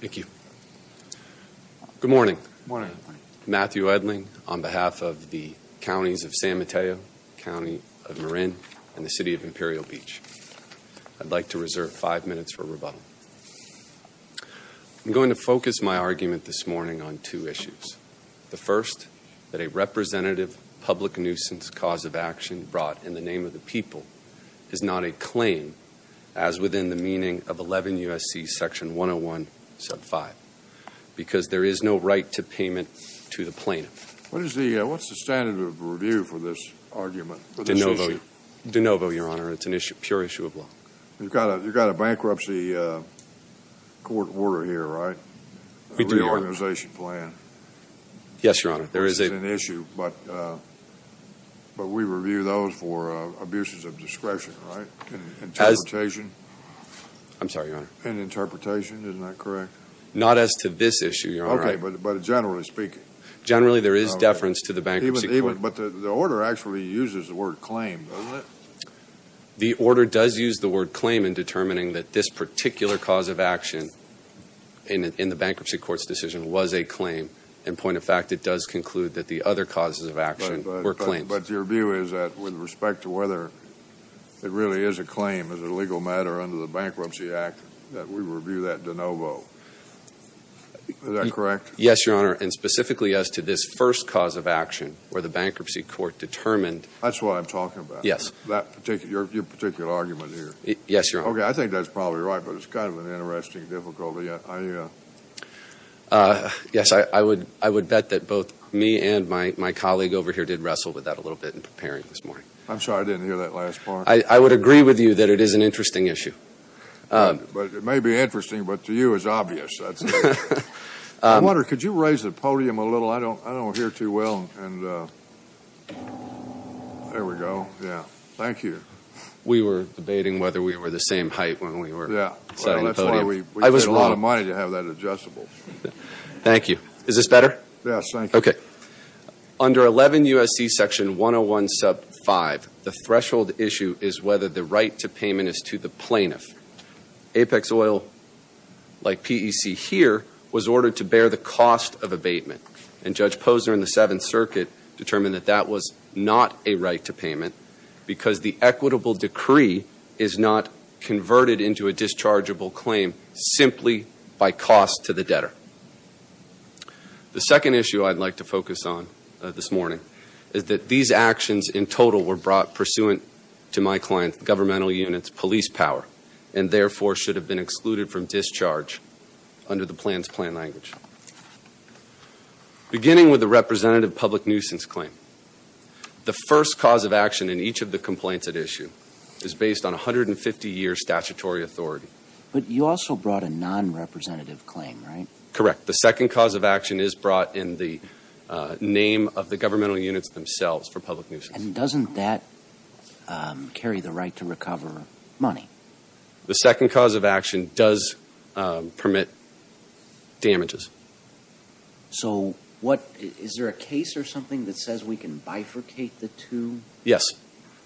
Thank you. Good morning. Matthew Edling on behalf of the counties of San Mateo, County of Marin, and the City of Imperial Beach. I'd like to reserve five minutes for rebuttal. I'm going to focus my argument this morning on two issues. The first, that a representative public nuisance cause of action brought in the people is not a claim, as within the meaning of 11 U.S.C. section 101, sub 5, because there is no right to payment to the plaintiff. What is the, what's the standard of review for this argument? De novo, your honor. It's an issue, pure issue of law. You've got a bankruptcy court order here, right? Reorganization plan. Yes, your honor. There is an issue, but we review those for abuses of discretion, right? Interpretation. I'm sorry, your honor. Interpretation, isn't that correct? Not as to this issue, your honor. Okay, but generally speaking. Generally, there is deference to the bankruptcy court. But the order actually uses the word claim, doesn't it? The order does use the word claim in determining that this particular cause of action in the bankruptcy court's decision was a claim. In point of fact, it does conclude that the other causes of respect to whether it really is a claim as a legal matter under the Bankruptcy Act, that we review that de novo. Is that correct? Yes, your honor. And specifically as to this first cause of action, where the bankruptcy court determined. That's what I'm talking about. Yes. That particular, your particular argument here. Yes, your honor. Okay, I think that's probably right, but it's kind of an interesting difficulty. Yes, I would, I would bet that both me and my colleague over here did wrestle with that a little bit in preparing this morning. I'm sorry, I didn't hear that last part. I would agree with you that it is an interesting issue. But it may be interesting, but to you is obvious. I wonder, could you raise the podium a little? I don't, I don't hear too well. And there we go. Yeah, thank you. We were debating whether we were the same height when we were setting the podium. Yeah, that's why we spent a lot of money to have that adjustable. Thank you. Is this better? Yes, thank you. Okay. Under 11 U.S.C. section 101 sub 5, the threshold issue is whether the right to payment is to the plaintiff. Apex oil, like PEC here, was ordered to bear the cost of abatement. And Judge Posner in the Seventh Circuit determined that that was not a right to payment, because the equitable decree is not converted into a dischargeable claim simply by cost to the debtor. The second issue I'd like to focus on this morning is that these actions in total were brought pursuant to my client's governmental unit's police power, and therefore should have been excluded from discharge under the plans plan language. Beginning with the representative public nuisance claim, the first cause of action in each of the complaints at issue is based on a hundred and fifty years statutory authority. But you also brought a non-representative claim, right? Correct. The second cause of action is brought in the name of the governmental units themselves for public nuisance. And doesn't that carry the right to recover money? The second cause of action does permit damages. So what, is there a case or something that says we can bifurcate the two? Yes.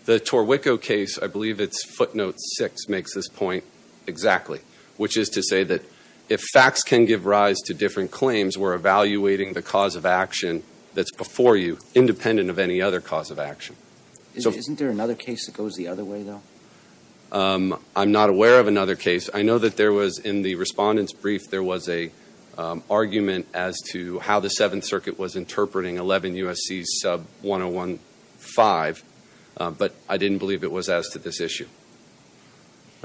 The Torrico case, I believe it's footnote six, makes this point exactly. Which is to say that if facts can give rise to different claims, we're evaluating the cause of action that's before you, independent of any other cause of action. Isn't there another case that goes the other way, though? I'm not aware of another case. I know that there was, in the respondent's brief, there was an argument as to how the Seventh Circuit was interpreting 11 U.S.C. sub 1015. But I didn't believe it was as to this issue.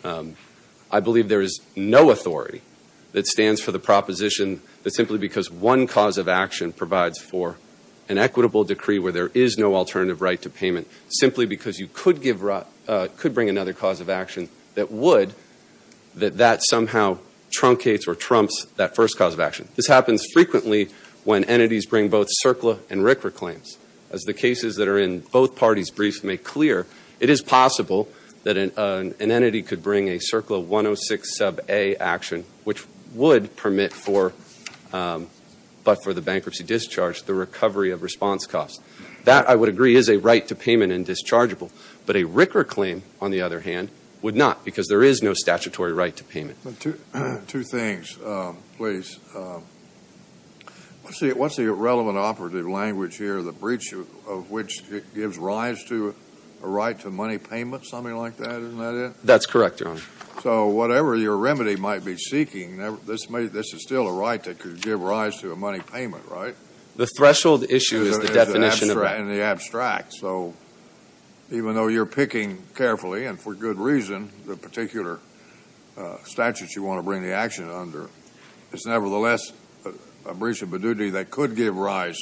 I believe there is no authority that stands for the proposition that simply because one cause of action provides for an equitable decree where there is no alternative right to payment, simply because you could give, could bring another cause of action that would, that that somehow truncates or trumps that first cause of action. This happens frequently when entities bring both cases that are in both parties' briefs make clear, it is possible that an entity could bring a circle of 106 sub A action, which would permit for, but for the bankruptcy discharge, the recovery of response costs. That, I would agree, is a right to payment and dischargeable. But a RICRA claim, on the other hand, would not because there is no statutory right to payment. Two things, please. Let's see, what's the relevant operative language here? The breach of which it gives rise to a right to money payment, something like that, isn't that it? That's correct, Your Honor. So whatever your remedy might be seeking, this may, this is still a right that could give rise to a money payment, right? The threshold issue is the definition. In the abstract, so even though you're picking carefully and for good reason, the particular statutes you want to bring the action under, it's nevertheless a breach of a duty that could give rise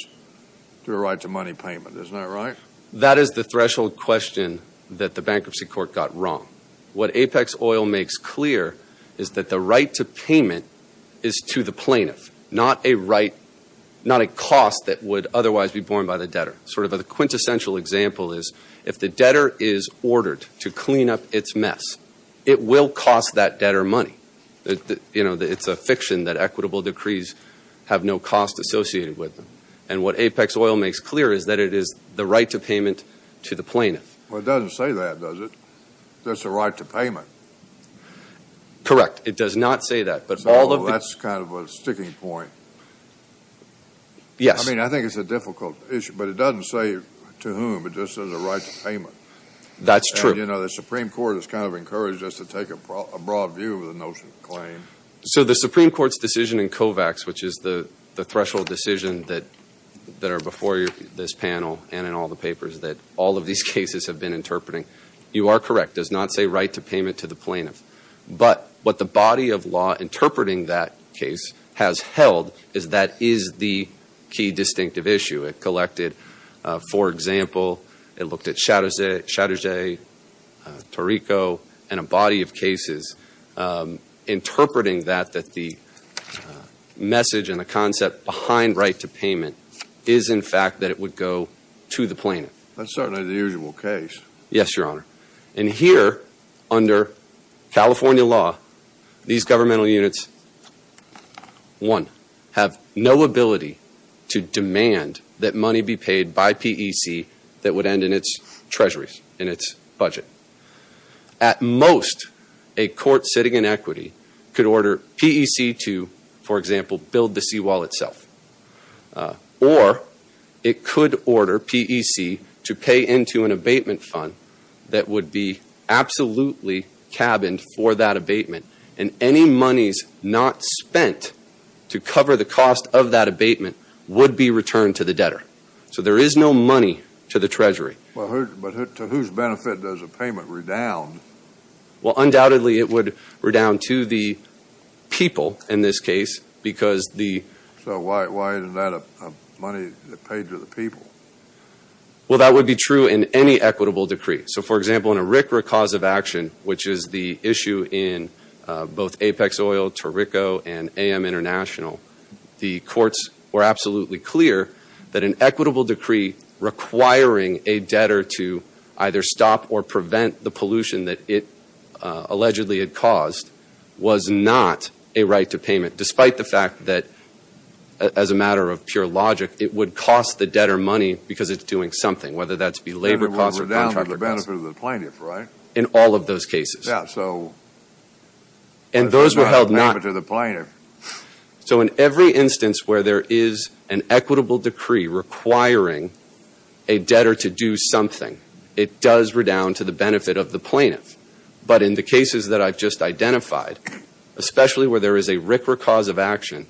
to a right to money payment, isn't that right? That is the threshold question that the bankruptcy court got wrong. What Apex Oil makes clear is that the right to payment is to the plaintiff, not a right, not a cost that would otherwise be borne by the debtor. Sort of a quintessential example is, if the debtor is ordered to clean up its mess, it will cost that debtor money. You know, it's a fiction that equitable decrees have no cost associated with them. And what Apex Oil makes clear is that it is the right to payment to the plaintiff. Well, it doesn't say that, does it? That's a right to payment. Correct. It does not say that, but all of the... So that's kind of a sticking point. Yes. I mean, I think it's a difficult issue, but it doesn't say to whom, it just says a right to payment. That's true. And you know, the Supreme Court has kind of encouraged us to take a broad view of the notion of claim. So the Supreme Court's decision in COVAX, which is the threshold decision that that are before this panel and in all the papers that all of these cases have been interpreting, you are correct. Does not say right to payment to the plaintiff. But what the body of law interpreting that case has held is that is the key distinctive issue. It collected, for example, it looked at Chatterjee, Tarrico, and a body of cases interpreting that that the message and the concept behind right to payment is, in fact, that it would go to the plaintiff. That's certainly the usual case. Yes, Your Honor. And here, under California law, these governmental units, one, have no ability to demand that money be paid by treasuries in its budget. At most, a court sitting in equity could order PEC to, for example, build the seawall itself. Or it could order PEC to pay into an abatement fund that would be absolutely cabined for that abatement. And any monies not spent to cover the cost of that abatement would be returned to the to whose benefit does a payment redound? Well, undoubtedly, it would redound to the people in this case because the... So why isn't that a money that paid to the people? Well, that would be true in any equitable decree. So, for example, in a RCRA cause of action, which is the issue in both Apex Oil, Tarrico, and AM International, the courts were absolutely clear that an equitable decree requiring a debtor to either stop or prevent the pollution that it allegedly had caused was not a right to payment, despite the fact that, as a matter of pure logic, it would cost the debtor money because it's doing something, whether that's be labor costs or contractor costs. And it would redound to the benefit of the plaintiff, right? In all of those cases. Yeah, so... And those were held not... To the plaintiff. So in every instance where there is an equitable decree requiring a debtor to do something, it does redound to the benefit of the plaintiff. But in the cases that I've just identified, especially where there is a RCRA cause of action,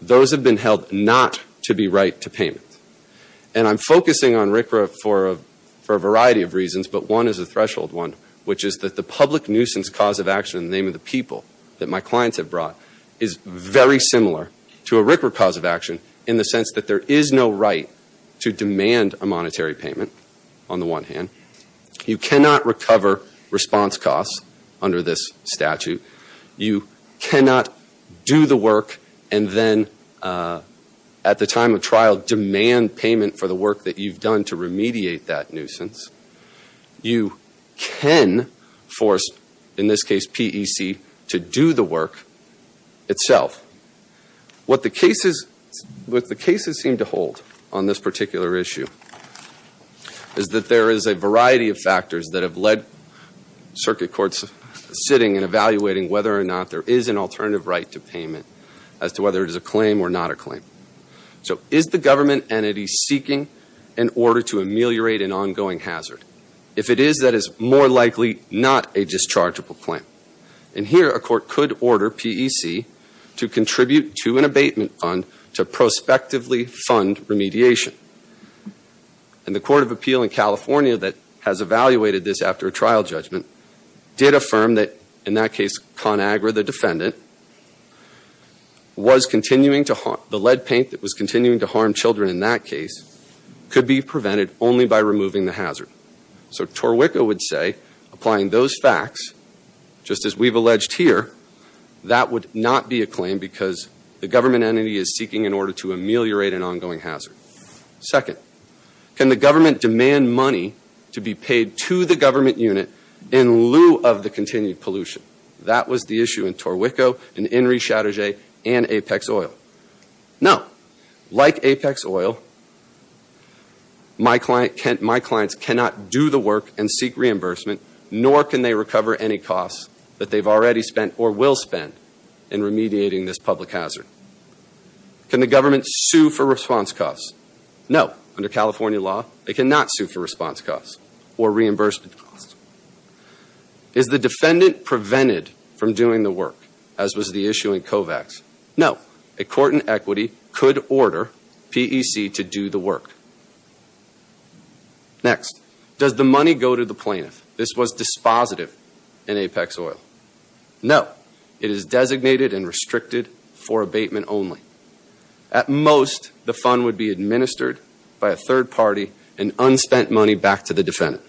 those have been held not to be right to payment. And I'm focusing on RCRA for a variety of reasons, but one is a threshold one, which is that the public nuisance cause of action in the name of the people that my clients have brought is very similar to a RCRA cause of action in the sense that there is no right to demand a monetary payment, on the one hand. You cannot recover response costs under this statute. You cannot do the work and then, at the time of trial, demand payment for the work that you've done to remediate that nuisance. You can force, in this case PEC, to do the work itself. What the cases... What the cases seem to hold on this particular issue is that there is a variety of factors that have led circuit courts sitting and evaluating whether or not there is an alternative right to payment as to whether it is a claim or not a claim. So is the government entity seeking an order to ameliorate an ongoing hazard? If it is, that is more likely not a to contribute to an abatement fund to prospectively fund remediation. And the Court of Appeal in California that has evaluated this after a trial judgment did affirm that, in that case, ConAgra, the defendant, was continuing to... the lead paint that was continuing to harm children in that case could be prevented only by removing the hazard. So Torwicka would say, applying those facts, just as we've alleged here, that would not be a claim because the government entity is seeking an order to ameliorate an ongoing hazard. Second, can the government demand money to be paid to the government unit in lieu of the continued pollution? That was the issue in Torwicko, in Inri Chatterjee, and Apex Oil. No. Like Apex Oil, my client... my clients cannot do the work and seek reimbursement, nor can they recover any costs that they've already spent or will spend in remediating this public hazard. Can the government sue for response costs? No. Under California law, they cannot sue for response costs or reimbursement costs. Is the defendant prevented from doing the work, as was the issue in Kovacs? No. A court in equity could order PEC to do the work. Next, does the money go to the plaintiff? No. It is designated and restricted for abatement only. At most, the fund would be administered by a third party and unspent money back to the defendant.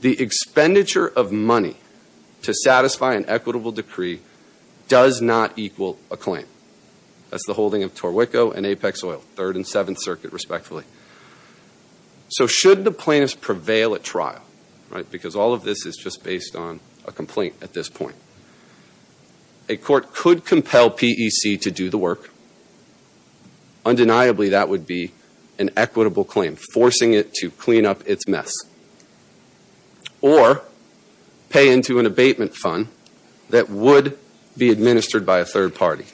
The expenditure of money to satisfy an equitable decree does not equal a claim. That's the holding of Torwicko and Apex Oil, 3rd and 7th Circuit, respectfully. So should the plaintiffs prevail at trial, right, because all of this is just based on a complaint at this point, a court could compel PEC to do the work. Undeniably, that would be an equitable claim, forcing it to clean up its mess or pay into an abatement fund that would be administered by a third party.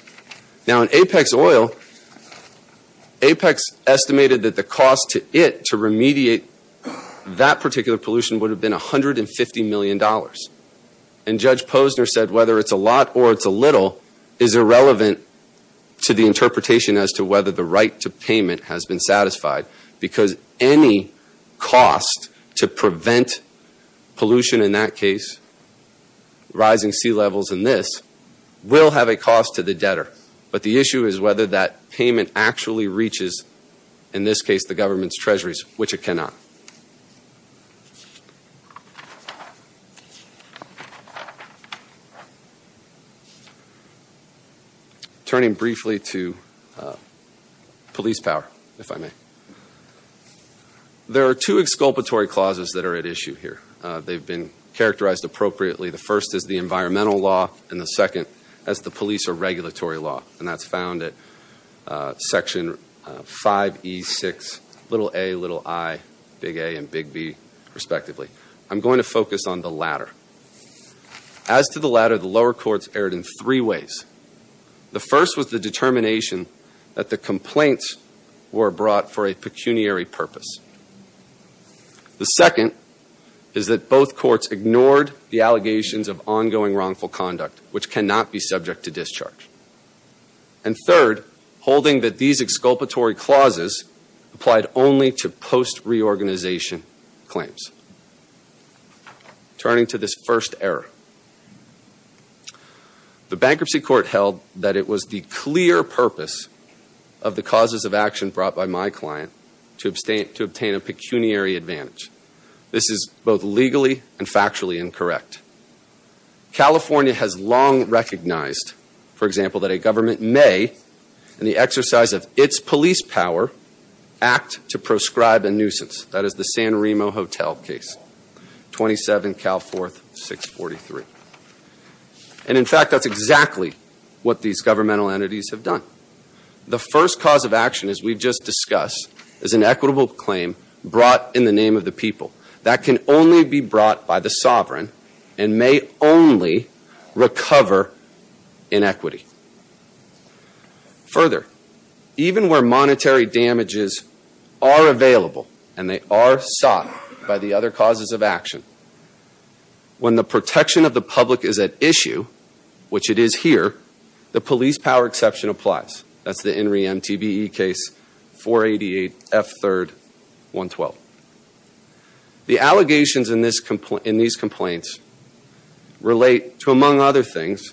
Now in Apex Oil, Apex estimated that the cost to it to remediate that particular pollution would have been a hundred and fifty million dollars. And Judge Posner said whether it's a lot or it's a little is irrelevant to the interpretation as to whether the right to payment has been satisfied because any cost to prevent pollution in that case, rising sea levels and this, will have a cost to the debtor. But the issue is whether that payment actually reaches, in this case, the government's treasuries, which it cannot. Turning briefly to police power, if I may. There are two exculpatory clauses that are at issue here. They've been characterized appropriately. The first is the environmental law and the second as the police or regulatory law. And that's found at section 5E6, little a, little I, big A, and big B, respectively. I'm going to focus on the latter. As to the latter, the lower courts erred in three ways. The first was the determination that the complaints were brought for a pecuniary purpose. The second is that both courts ignored the allegations of ongoing And third, holding that these exculpatory clauses applied only to post-reorganization claims. Turning to this first error. The bankruptcy court held that it was the clear purpose of the causes of action brought by my client to obtain a pecuniary advantage. This is both legally and factually incorrect. California has long recognized, for example, that a government may, in the exercise of its police power, act to proscribe a nuisance. That is the San Remo Hotel case. 27 Cal 4, 643. And in fact, that's exactly what these governmental entities have done. The first cause of action, as we've just discussed, is an equitable claim brought in the name of the people. That can only be brought by the sovereign and may only recover inequity. Further, even where monetary damages are available, and they are sought by the other causes of action, when the protection of the public is at issue, which it is here, the police power exception applies. That's the relate to, among other things,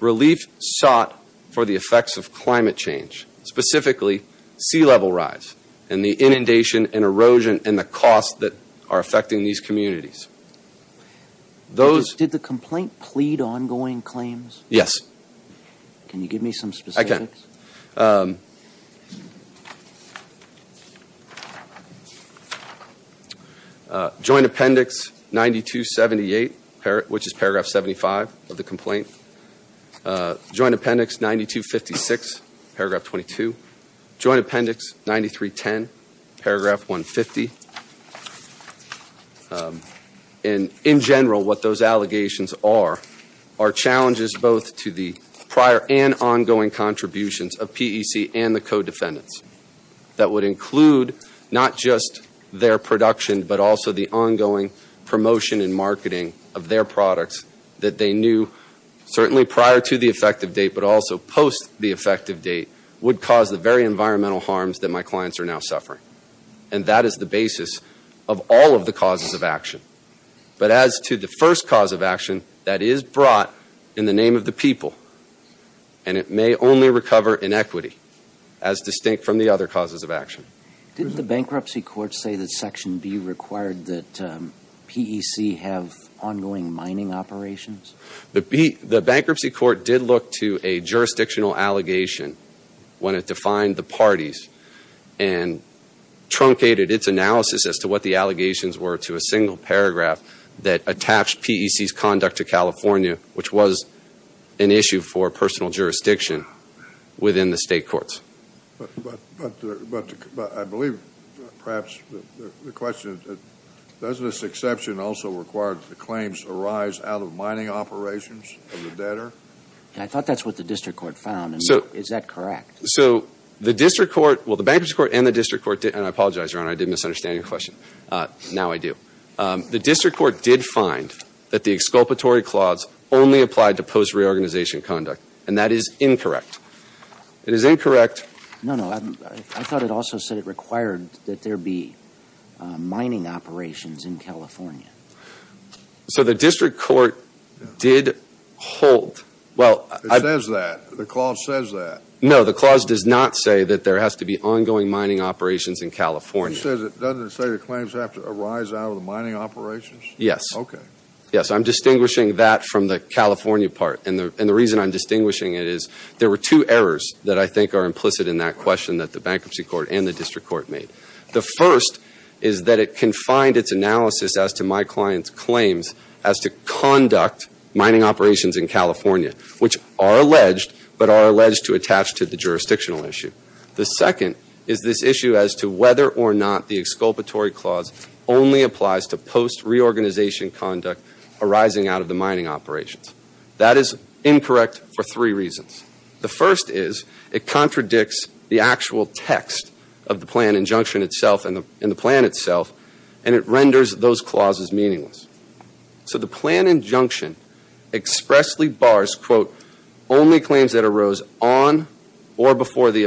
relief sought for the effects of climate change. Specifically, sea level rise and the inundation and erosion and the costs that are affecting these communities. Those... Did the complaint plead ongoing which is paragraph 75 of the complaint. Joint appendix 9256, paragraph 22. Joint appendix 9310, paragraph 150. In general, what those allegations are, are challenges both to the prior and ongoing contributions of PEC and the co-defendants. That would include not just their production, but also the products that they knew, certainly prior to the effective date, but also post the effective date, would cause the very environmental harms that my clients are now suffering. And that is the basis of all of the causes of action. But as to the first cause of action, that is brought in the name of the people. And it may only recover inequity, as distinct from the other causes of action. Did the bankruptcy court say that section B required that PEC have ongoing mining operations? The bankruptcy court did look to a jurisdictional allegation when it defined the parties and truncated its analysis as to what the allegations were to a single paragraph that attached PEC's conduct to California, which was an issue for personal jurisdiction within the state courts. But I believe perhaps the question is, does this exception also require that the claims arise out of mining operations of the debtor? I thought that's what the district court found. So is that correct? So the district court, well the bankruptcy court and the district court did, and I apologize your honor, I did misunderstand your question. Now I do. The district court did find that the exculpatory clause only applied to post-reorganization conduct. And that is incorrect. It is incorrect. No, no. I thought it also said it required that there be mining operations in California. So the district court did hold, well. It says that. The clause says that. No, the clause does not say that there has to be ongoing mining operations in California. It doesn't say the claims have to arise out of the mining operations? Yes. Okay. Yes, I'm distinguishing that from the there were two errors that I think are implicit in that question that the bankruptcy court and the district court made. The first is that it confined its analysis as to my client's claims as to conduct mining operations in California, which are alleged, but are alleged to attach to the jurisdictional issue. The second is this issue as to whether or not the exculpatory clause only applies to post-reorganization conduct arising out of the mining operations. That is incorrect for three reasons. The first is it contradicts the actual text of the plan injunction itself and the plan itself, and it renders those clauses meaningless. So the plan injunction expressly bars, quote, only claims that arose on or before the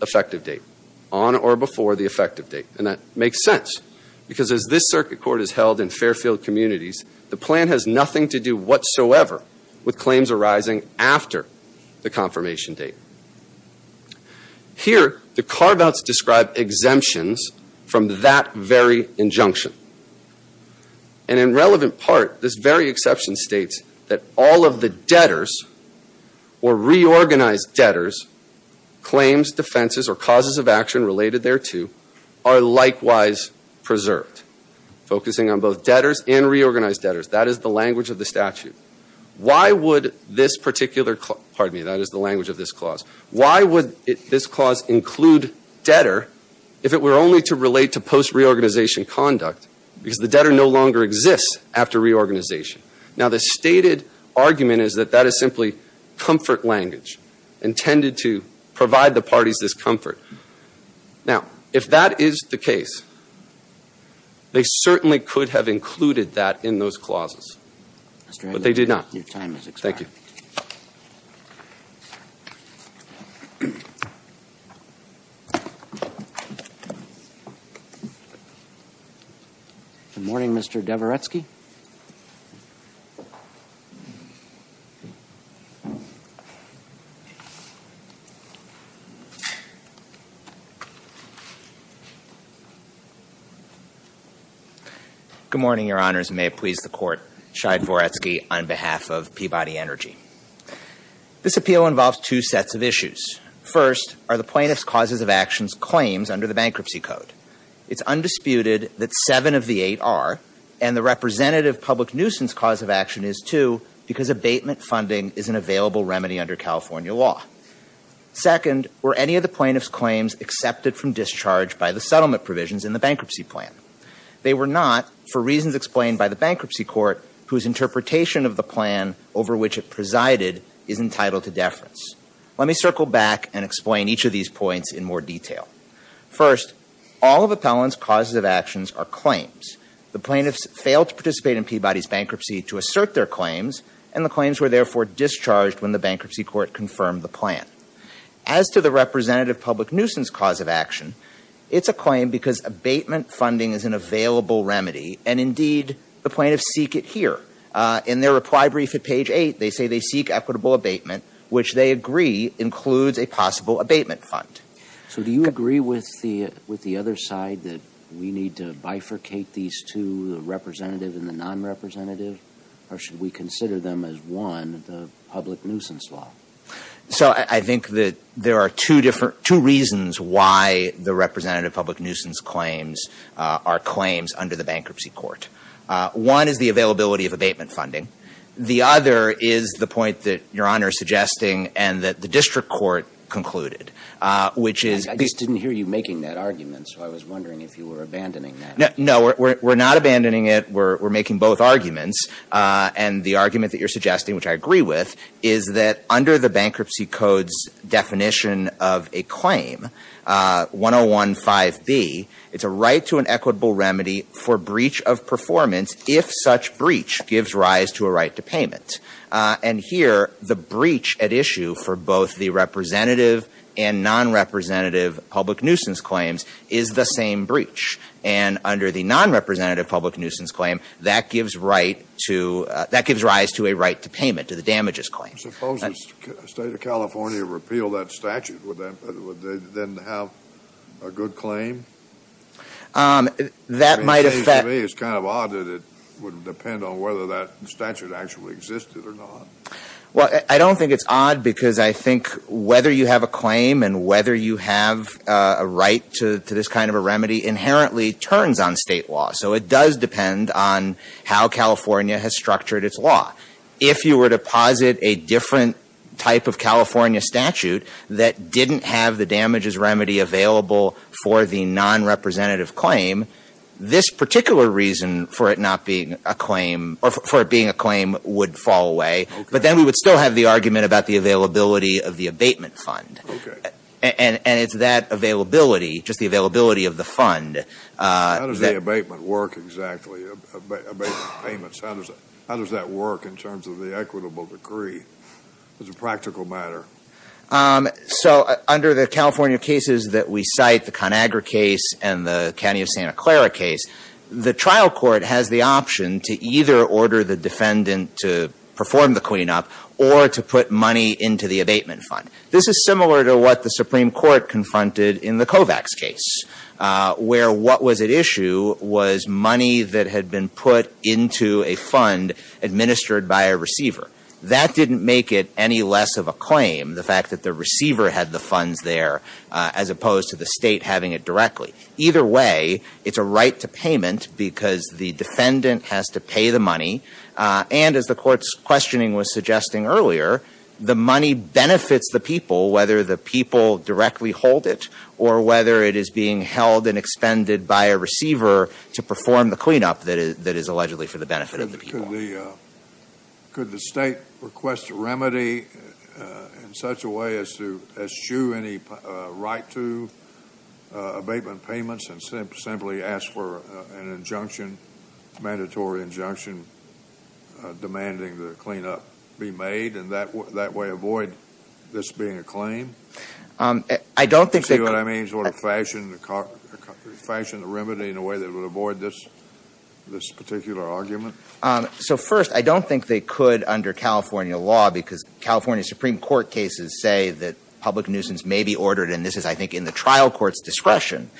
effective date. On or before the effective date. And that makes sense. Because as this circuit court is held in Fairfield communities, the plan has nothing to do whatsoever with claims arising after the confirmation date. Here, the carve-outs describe exemptions from that very injunction. And in relevant part, this very exception states that all of the debtors, or reorganized debtors, claims, defenses, or causes of action related thereto are likewise preserved. Focusing on both debtors and reorganized debtors. That is the language of the statute. Why would this particular, pardon me, that is the language of this clause, why would this clause include debtor if it were only to relate to post-reorganization conduct? Because the debtor no longer exists after reorganization. Now the stated argument is that that is simply comfort language intended to provide the parties this comfort. Now, if that is the case, they certainly could have included that in those clauses. But they did not. Thank you. Good morning, Mr. Dvoretsky. Good morning, your honors. May it please the court, Shide Dvoretsky on behalf of Peabody Energy. This appeal involves two sets of issues. First, are the plaintiff's causes of actions claims under the bankruptcy code? It's undisputed that seven of the eight are, and the representative public nuisance cause of action is too, because abatement funding is an available remedy under California law. Second, were any of the plaintiff's claims accepted from discharge by the settlement provisions in the bankruptcy plan? They were not, for reasons explained by the which it presided, is entitled to deference. Let me circle back and explain each of these points in more detail. First, all of appellant's causes of actions are claims. The plaintiffs failed to participate in Peabody's bankruptcy to assert their claims, and the claims were therefore discharged when the bankruptcy court confirmed the plan. As to the representative public nuisance cause of action, it's a claim because abatement funding is an available remedy, and they say they seek equitable abatement, which they agree includes a possible abatement fund. So do you agree with the, with the other side that we need to bifurcate these two, the representative and the non-representative, or should we consider them as one, the public nuisance law? So I think that there are two different, two reasons why the representative public nuisance claims are claims under the bankruptcy court. One is the availability of abatement funding. The other is the point that Your Honor is suggesting, and that the district court concluded, which is- I just didn't hear you making that argument, so I was wondering if you were abandoning that. No, we're not abandoning it. We're, we're making both arguments. And the argument that you're suggesting, which I agree with, is that under the bankruptcy code's definition of a claim, 1015B, it's a right to an equitable remedy for breach of performance if such breach gives rise to a right to payment. And here, the breach at issue for both the representative and non-representative public nuisance claims is the same breach. And under the non-representative public nuisance claim, that gives right to, that gives rise to a right to payment, to the damages claim. Suppose the state of California repealed that statute. Would that, would they then have a good claim? That might affect- Well, I don't think it's odd because I think whether you have a claim and whether you have a right to, to this kind of a remedy inherently turns on state law. So it does depend on how California has structured its law. If you were to posit a different type of California statute that didn't have the damages remedy available for the non-representative claim, this particular reason for it not being a claim, or for it being a claim, would fall away. But then we would still have the argument about the availability of the abatement fund. And, and it's that availability, just the availability of the fund- How does the abatement work exactly, abatement payments? How does, how does that work in terms of the equitable decree? It's a practical matter. So under the California cases that we cite, the ConAgra case and the County of Santa Clara case, the trial court has the option to either order the defendant to perform the cleanup or to put money into the abatement fund. This is similar to what the Supreme Court confronted in the Kovacs case, where what was at issue was money that had been put into a fund administered by a receiver. That didn't make it any less of a claim, the fact that the receiver had the funds there as opposed to the state having it directly. Either way, it's a right to payment because the defendant has to pay the money. And as the court's questioning was suggesting earlier, the money benefits the people, whether the people directly hold it or whether it is being held and expended by a receiver to perform the cleanup that is allegedly for the benefit of the people. Could the state request a remedy in such a way as to eschew any right to abatement payments and simply ask for an injunction, mandatory injunction, demanding the cleanup be made and that way avoid this being a claim? I don't think that... Do you see what I mean? Sort of fashion the remedy in a way that would avoid this particular argument? So first, I don't think they could under California law because California Supreme Court cases say that public nuisance may be ordered, and this is, I think, in the trial court's discretion,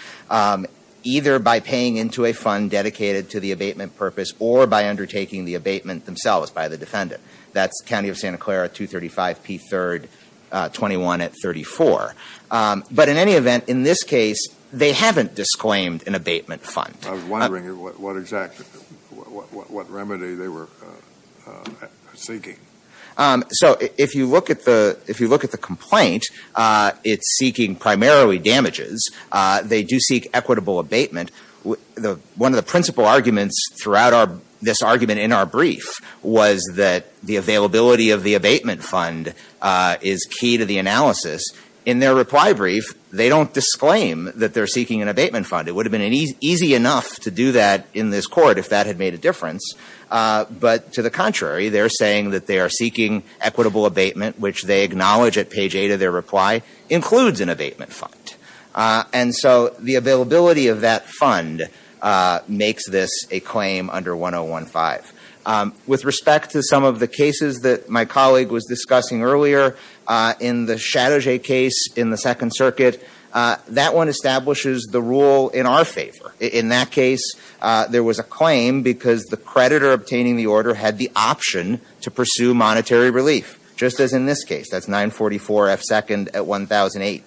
either by paying into a fund dedicated to the abatement purpose or by undertaking the abatement themselves by the defendant. That's County of Santa Clara 235 P3rd 21 at 34. But in any event, in this case, they haven't disclaimed an abatement fund. I was wondering what exact, what remedy they were seeking. So if you look at the complaint, it's seeking primarily damages. They do seek equitable abatement. One of the principal arguments throughout this argument in our brief was that the availability of the abatement fund is key to the analysis. In their reply brief, they don't disclaim that they're seeking an abatement fund. It would have been easy enough to do that in this court if that had made a difference. But to the contrary, they're saying that they are seeking equitable abatement, which they acknowledge at page 8 of their reply includes an abatement fund. And so the availability of that fund makes this a claim under 1015. With respect to some of the cases that my colleague was discussing earlier, in the Chatterjee case in the Second Circuit, that one establishes the rule in our favor. In that case, there was a claim because the creditor obtaining the order had the option to pursue monetary relief, just as in this case. That's 944F2nd at 1008.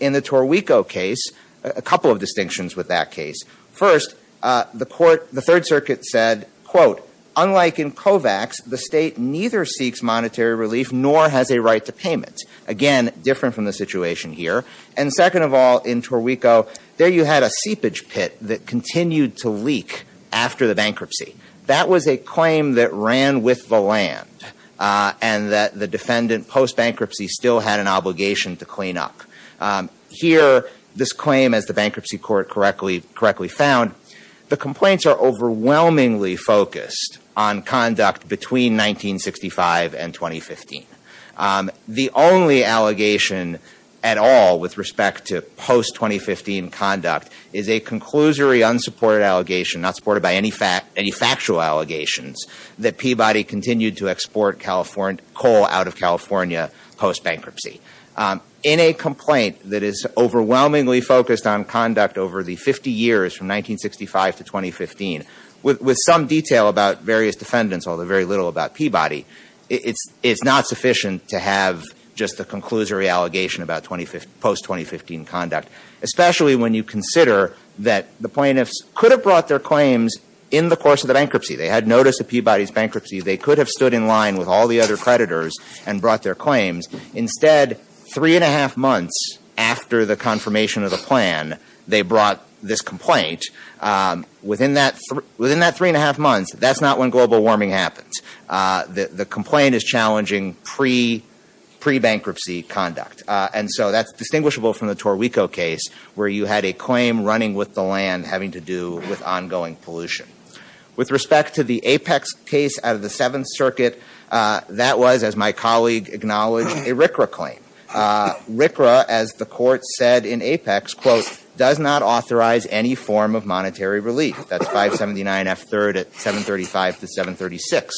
In the Torrico case, a couple of distinctions with that case. First, the court, the Third Circuit said, quote, unlike in Kovacs, the state neither seeks monetary relief nor has a right to payment. Again, different from the situation here. And second of all, in Torrico, there you had a seepage pit that continued to leak after the bankruptcy. That was a claim that ran with the land and that the defendant, post-bankruptcy, still had an obligation to clean up. Here, this claim, as the bankruptcy court correctly found, the complaints are overwhelmingly focused on conduct between 1965 and 2015. The only allegation at all with respect to post-2015 conduct is a conclusory unsupported allegation, not supported by any factual allegations, that Peabody continued to export coal out of California post-bankruptcy. In a complaint that is overwhelmingly focused on conduct over the 50 years from 1965 to 2015, with some detail about various defendants, although very little about Peabody, it's not sufficient to have just a conclusory allegation about post-2015 conduct. Especially when you consider that the plaintiffs could have brought their claims in the course of the bankruptcy. They had notice of Peabody's bankruptcy. They could have stood in line with all the other creditors and brought their claims. Instead, three and a half months after the confirmation of the plan, they brought this complaint. Within that three and a half months, that's not when global warming happens. The complaint is challenging pre-bankruptcy conduct. And so that's distinguishable from the Torrico case, where you had a claim running with the land having to do with ongoing pollution. With respect to the Apex case out of the Seventh Circuit, that was, as my colleague acknowledged, a RCRA claim. RCRA, as the court said in Apex, quote, does not authorize any form of monetary relief. That's 579F3rd at 735 to 736.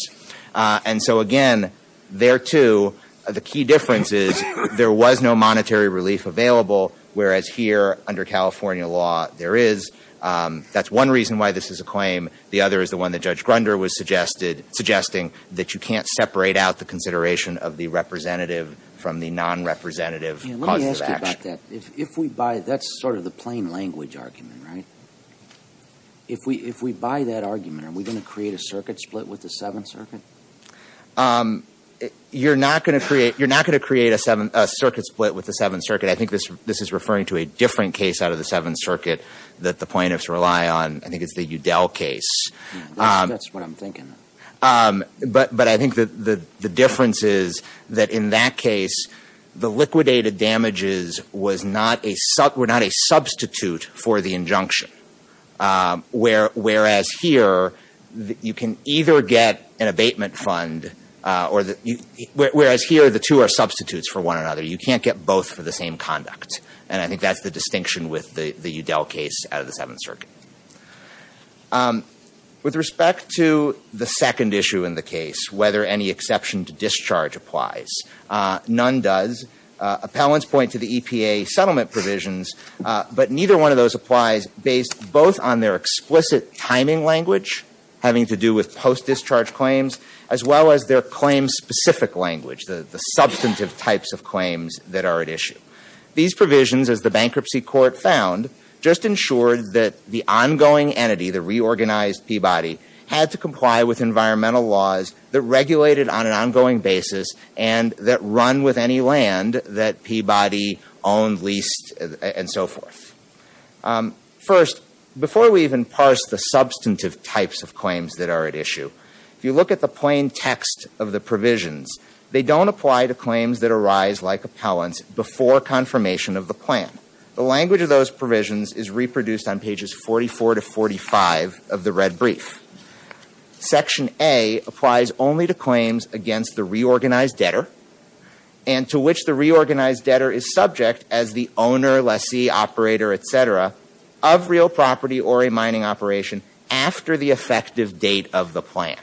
And so again, there too, the key difference is there was no monetary relief available, whereas here under California law, there is. That's one reason why this is a claim. The other is the one that Judge Grunder was suggesting, that you can't separate out the consideration of the representative from the non-representative cause of action. If we buy that argument, are we going to create a circuit split with the Seventh Circuit? You're not going to create a circuit split with the Seventh Circuit. I think this is referring to a different case out of the Seventh Circuit that the plaintiffs rely on. I think it's the Udell case. That's what I'm thinking. But I think the difference is that in that case, the liquidated damages were not a substitute for the injunction. Whereas here, you can either get an abatement fund, whereas here the two are substitutes for one another. You can't get both for the same conduct. And I think that's the distinction with the Udell case out of the Seventh Circuit. With respect to the second issue in the case, whether any exception to discharge applies, none does. Appellants point to the EPA settlement provisions, but neither one of those applies based both on their explicit timing language, having to do with post-discharge claims, as well as their claim-specific language, the substantive types of claims that are at issue. These provisions, as the bankruptcy court found, just ensured that the ongoing entity, the reorganized Peabody, had to comply with environmental laws that regulated on an ongoing basis and that run with any land that Peabody owned, leased, and so forth. First, before we even parse the substantive types of claims that are at issue, if you look at the plain text of the provisions, they don't apply to claims that arise like or confirmation of the plan. The language of those provisions is reproduced on pages 44 to 45 of the red brief. Section A applies only to claims against the reorganized debtor and to which the reorganized debtor is subject as the owner, lessee, operator, et cetera, of real property or a mining operation after the effective date of the plan.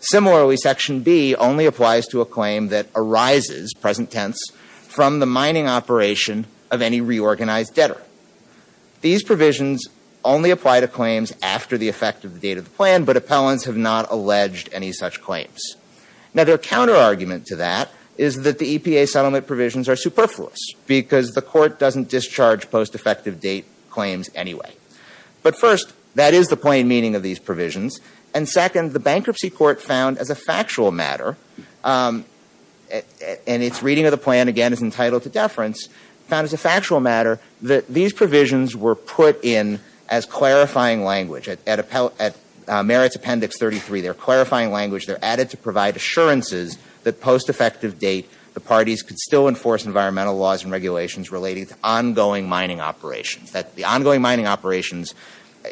Similarly, Section B only applies to a claim that arises, present tense, from the mining operation of any reorganized debtor. These provisions only apply to claims after the effect of the date of the plan, but appellants have not alleged any such claims. Now their counterargument to that is that the EPA settlement provisions are superfluous because the court doesn't discharge post-effective date claims anyway. But first, that is the plain meaning of these provisions. And second, the bankruptcy court found as a factual matter, and its reading of the plan again is entitled to deference, found as a factual matter that these provisions were put in as clarifying language. At Merit's Appendix 33, they're clarifying language, they're added to provide assurances that post-effective date the parties could still enforce environmental laws and regulations relating to ongoing mining operations, that the ongoing mining operations,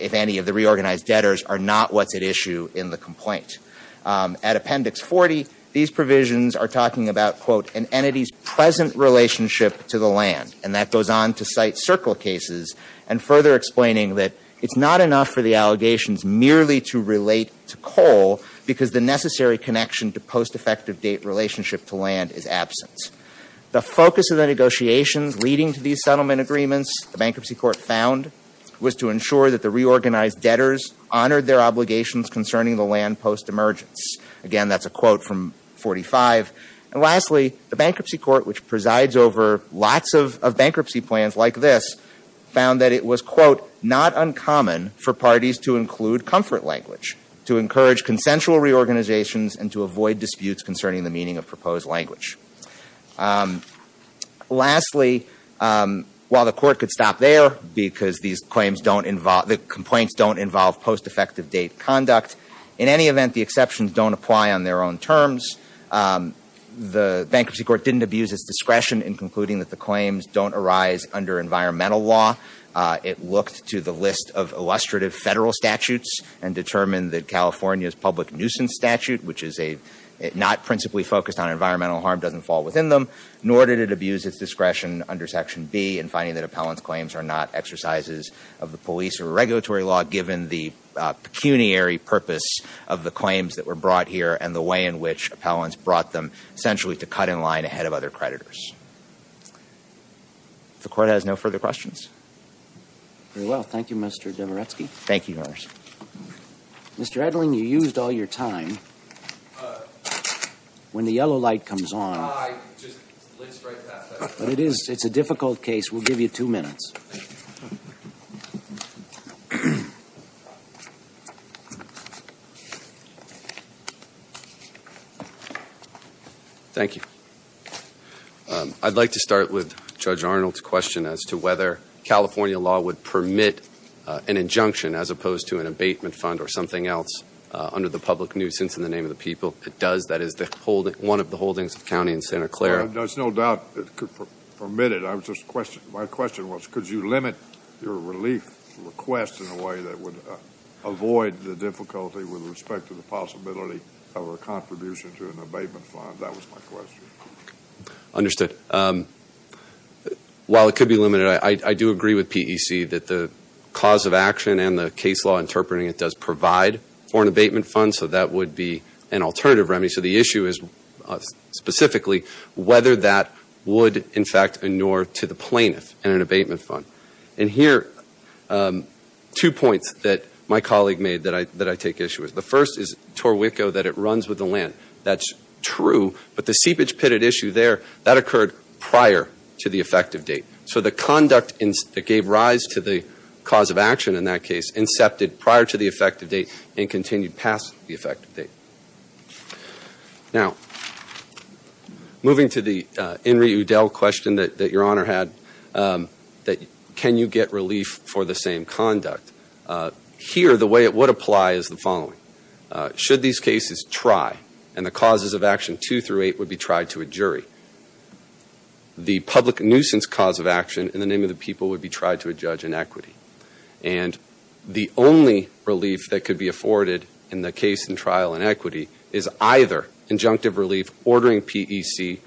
if any, of the reorganized debtors are not what's at issue in the complaint. At Appendix 40, these provisions are talking about, quote, an entity's present relationship to the land. And that goes on to cite circle cases and further explaining that it's not enough for the allegations merely to relate to coal because the necessary connection to post-effective date relationship to land is absent. The focus of the negotiations leading to these settlement agreements, the bankruptcy court found, was to ensure that the reorganized debtors honored their obligations concerning the land post-emergence. Again, that's a quote from 45. And lastly, the bankruptcy court, which presides over lots of bankruptcy plans like this, found that it was, quote, not uncommon for parties to include comfort language, to encourage Lastly, while the court could stop there because these claims don't involve, the complaints don't involve post-effective date conduct, in any event, the exceptions don't apply on their own terms. The bankruptcy court didn't abuse its discretion in concluding that the claims don't arise under environmental law. It looked to the list of illustrative federal statutes and determined that California's public nuisance statute, which is not principally focused on environmental harm, doesn't fall within them. Nor did it abuse its discretion under Section B in finding that appellant's claims are not exercises of the police or regulatory law, given the pecuniary purpose of the claims that were brought here and the way in which appellants brought them, essentially, to cut in line ahead of other creditors. The court has no further questions. Very well. Thank you, Mr. Dvoretsky. Thank you, Your Honor. Mr. Edling, you used all your time. When the yellow light comes on... I just glanced right past that. But it is, it's a difficult case. We'll give you two minutes. Thank you. I'd like to start with Judge Arnold's question as to whether California law would permit an injunction as opposed to an abatement fund or something else under the public nuisance in the name of the people. It does. That is one of the holdings of county in Santa Clara. There's no doubt it could permit it. My question was, could you limit your relief request in a way that would avoid the difficulty with respect to the possibility of a contribution to an abatement fund? That was my question. Understood. While it could be limited, I do agree with PEC that the cause of action and the case law interpreting it does provide for an abatement fund, so that would be an alternative remedy. So the issue is specifically whether that would, in fact, inure to the plaintiff in an abatement fund. And here, two points that my colleague made that I take issue with. The first is Torrico, that it runs with the land. That's true. But the seepage pitted issue there, that occurred prior to the effective date. So the conduct that gave rise to the cause of action in that case, incepted prior to the effective date and continued past the effective date. Now, moving to the Henry Udell question that Your Honor had, that can you get relief for the same conduct? Here, the way it would apply is the following. Should these cases try, and the causes of action two through eight would be tried to a jury, the public nuisance cause of action in the name of the people would be tried to a judge in equity. And the only relief that could be afforded in the case and trial in equity is either injunctive relief, ordering PEC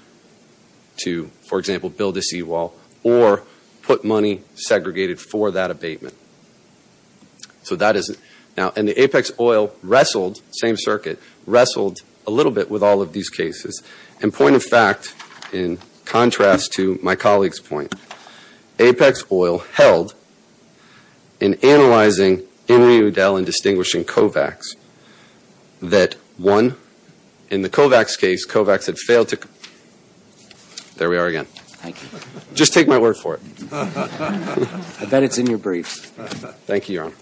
to, for example, build a seawall, or put money segregated for that abatement. So that is it. Now, and the Apex Oil wrestled, same circuit, wrestled a little bit with all of these cases. And point of fact, in contrast to my colleague's point, Apex Oil held in analyzing Henry Udell and distinguishing Kovacs, that one, in the Kovacs case, Kovacs had failed to, there we are again. Thank you. Just take my word for it. I bet it's in your brief. Thank you, Your Honor.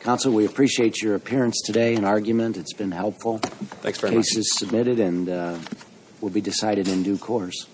Counsel, we appreciate your appearance today and argument. It's been helpful. The case is submitted and will be decided in due course.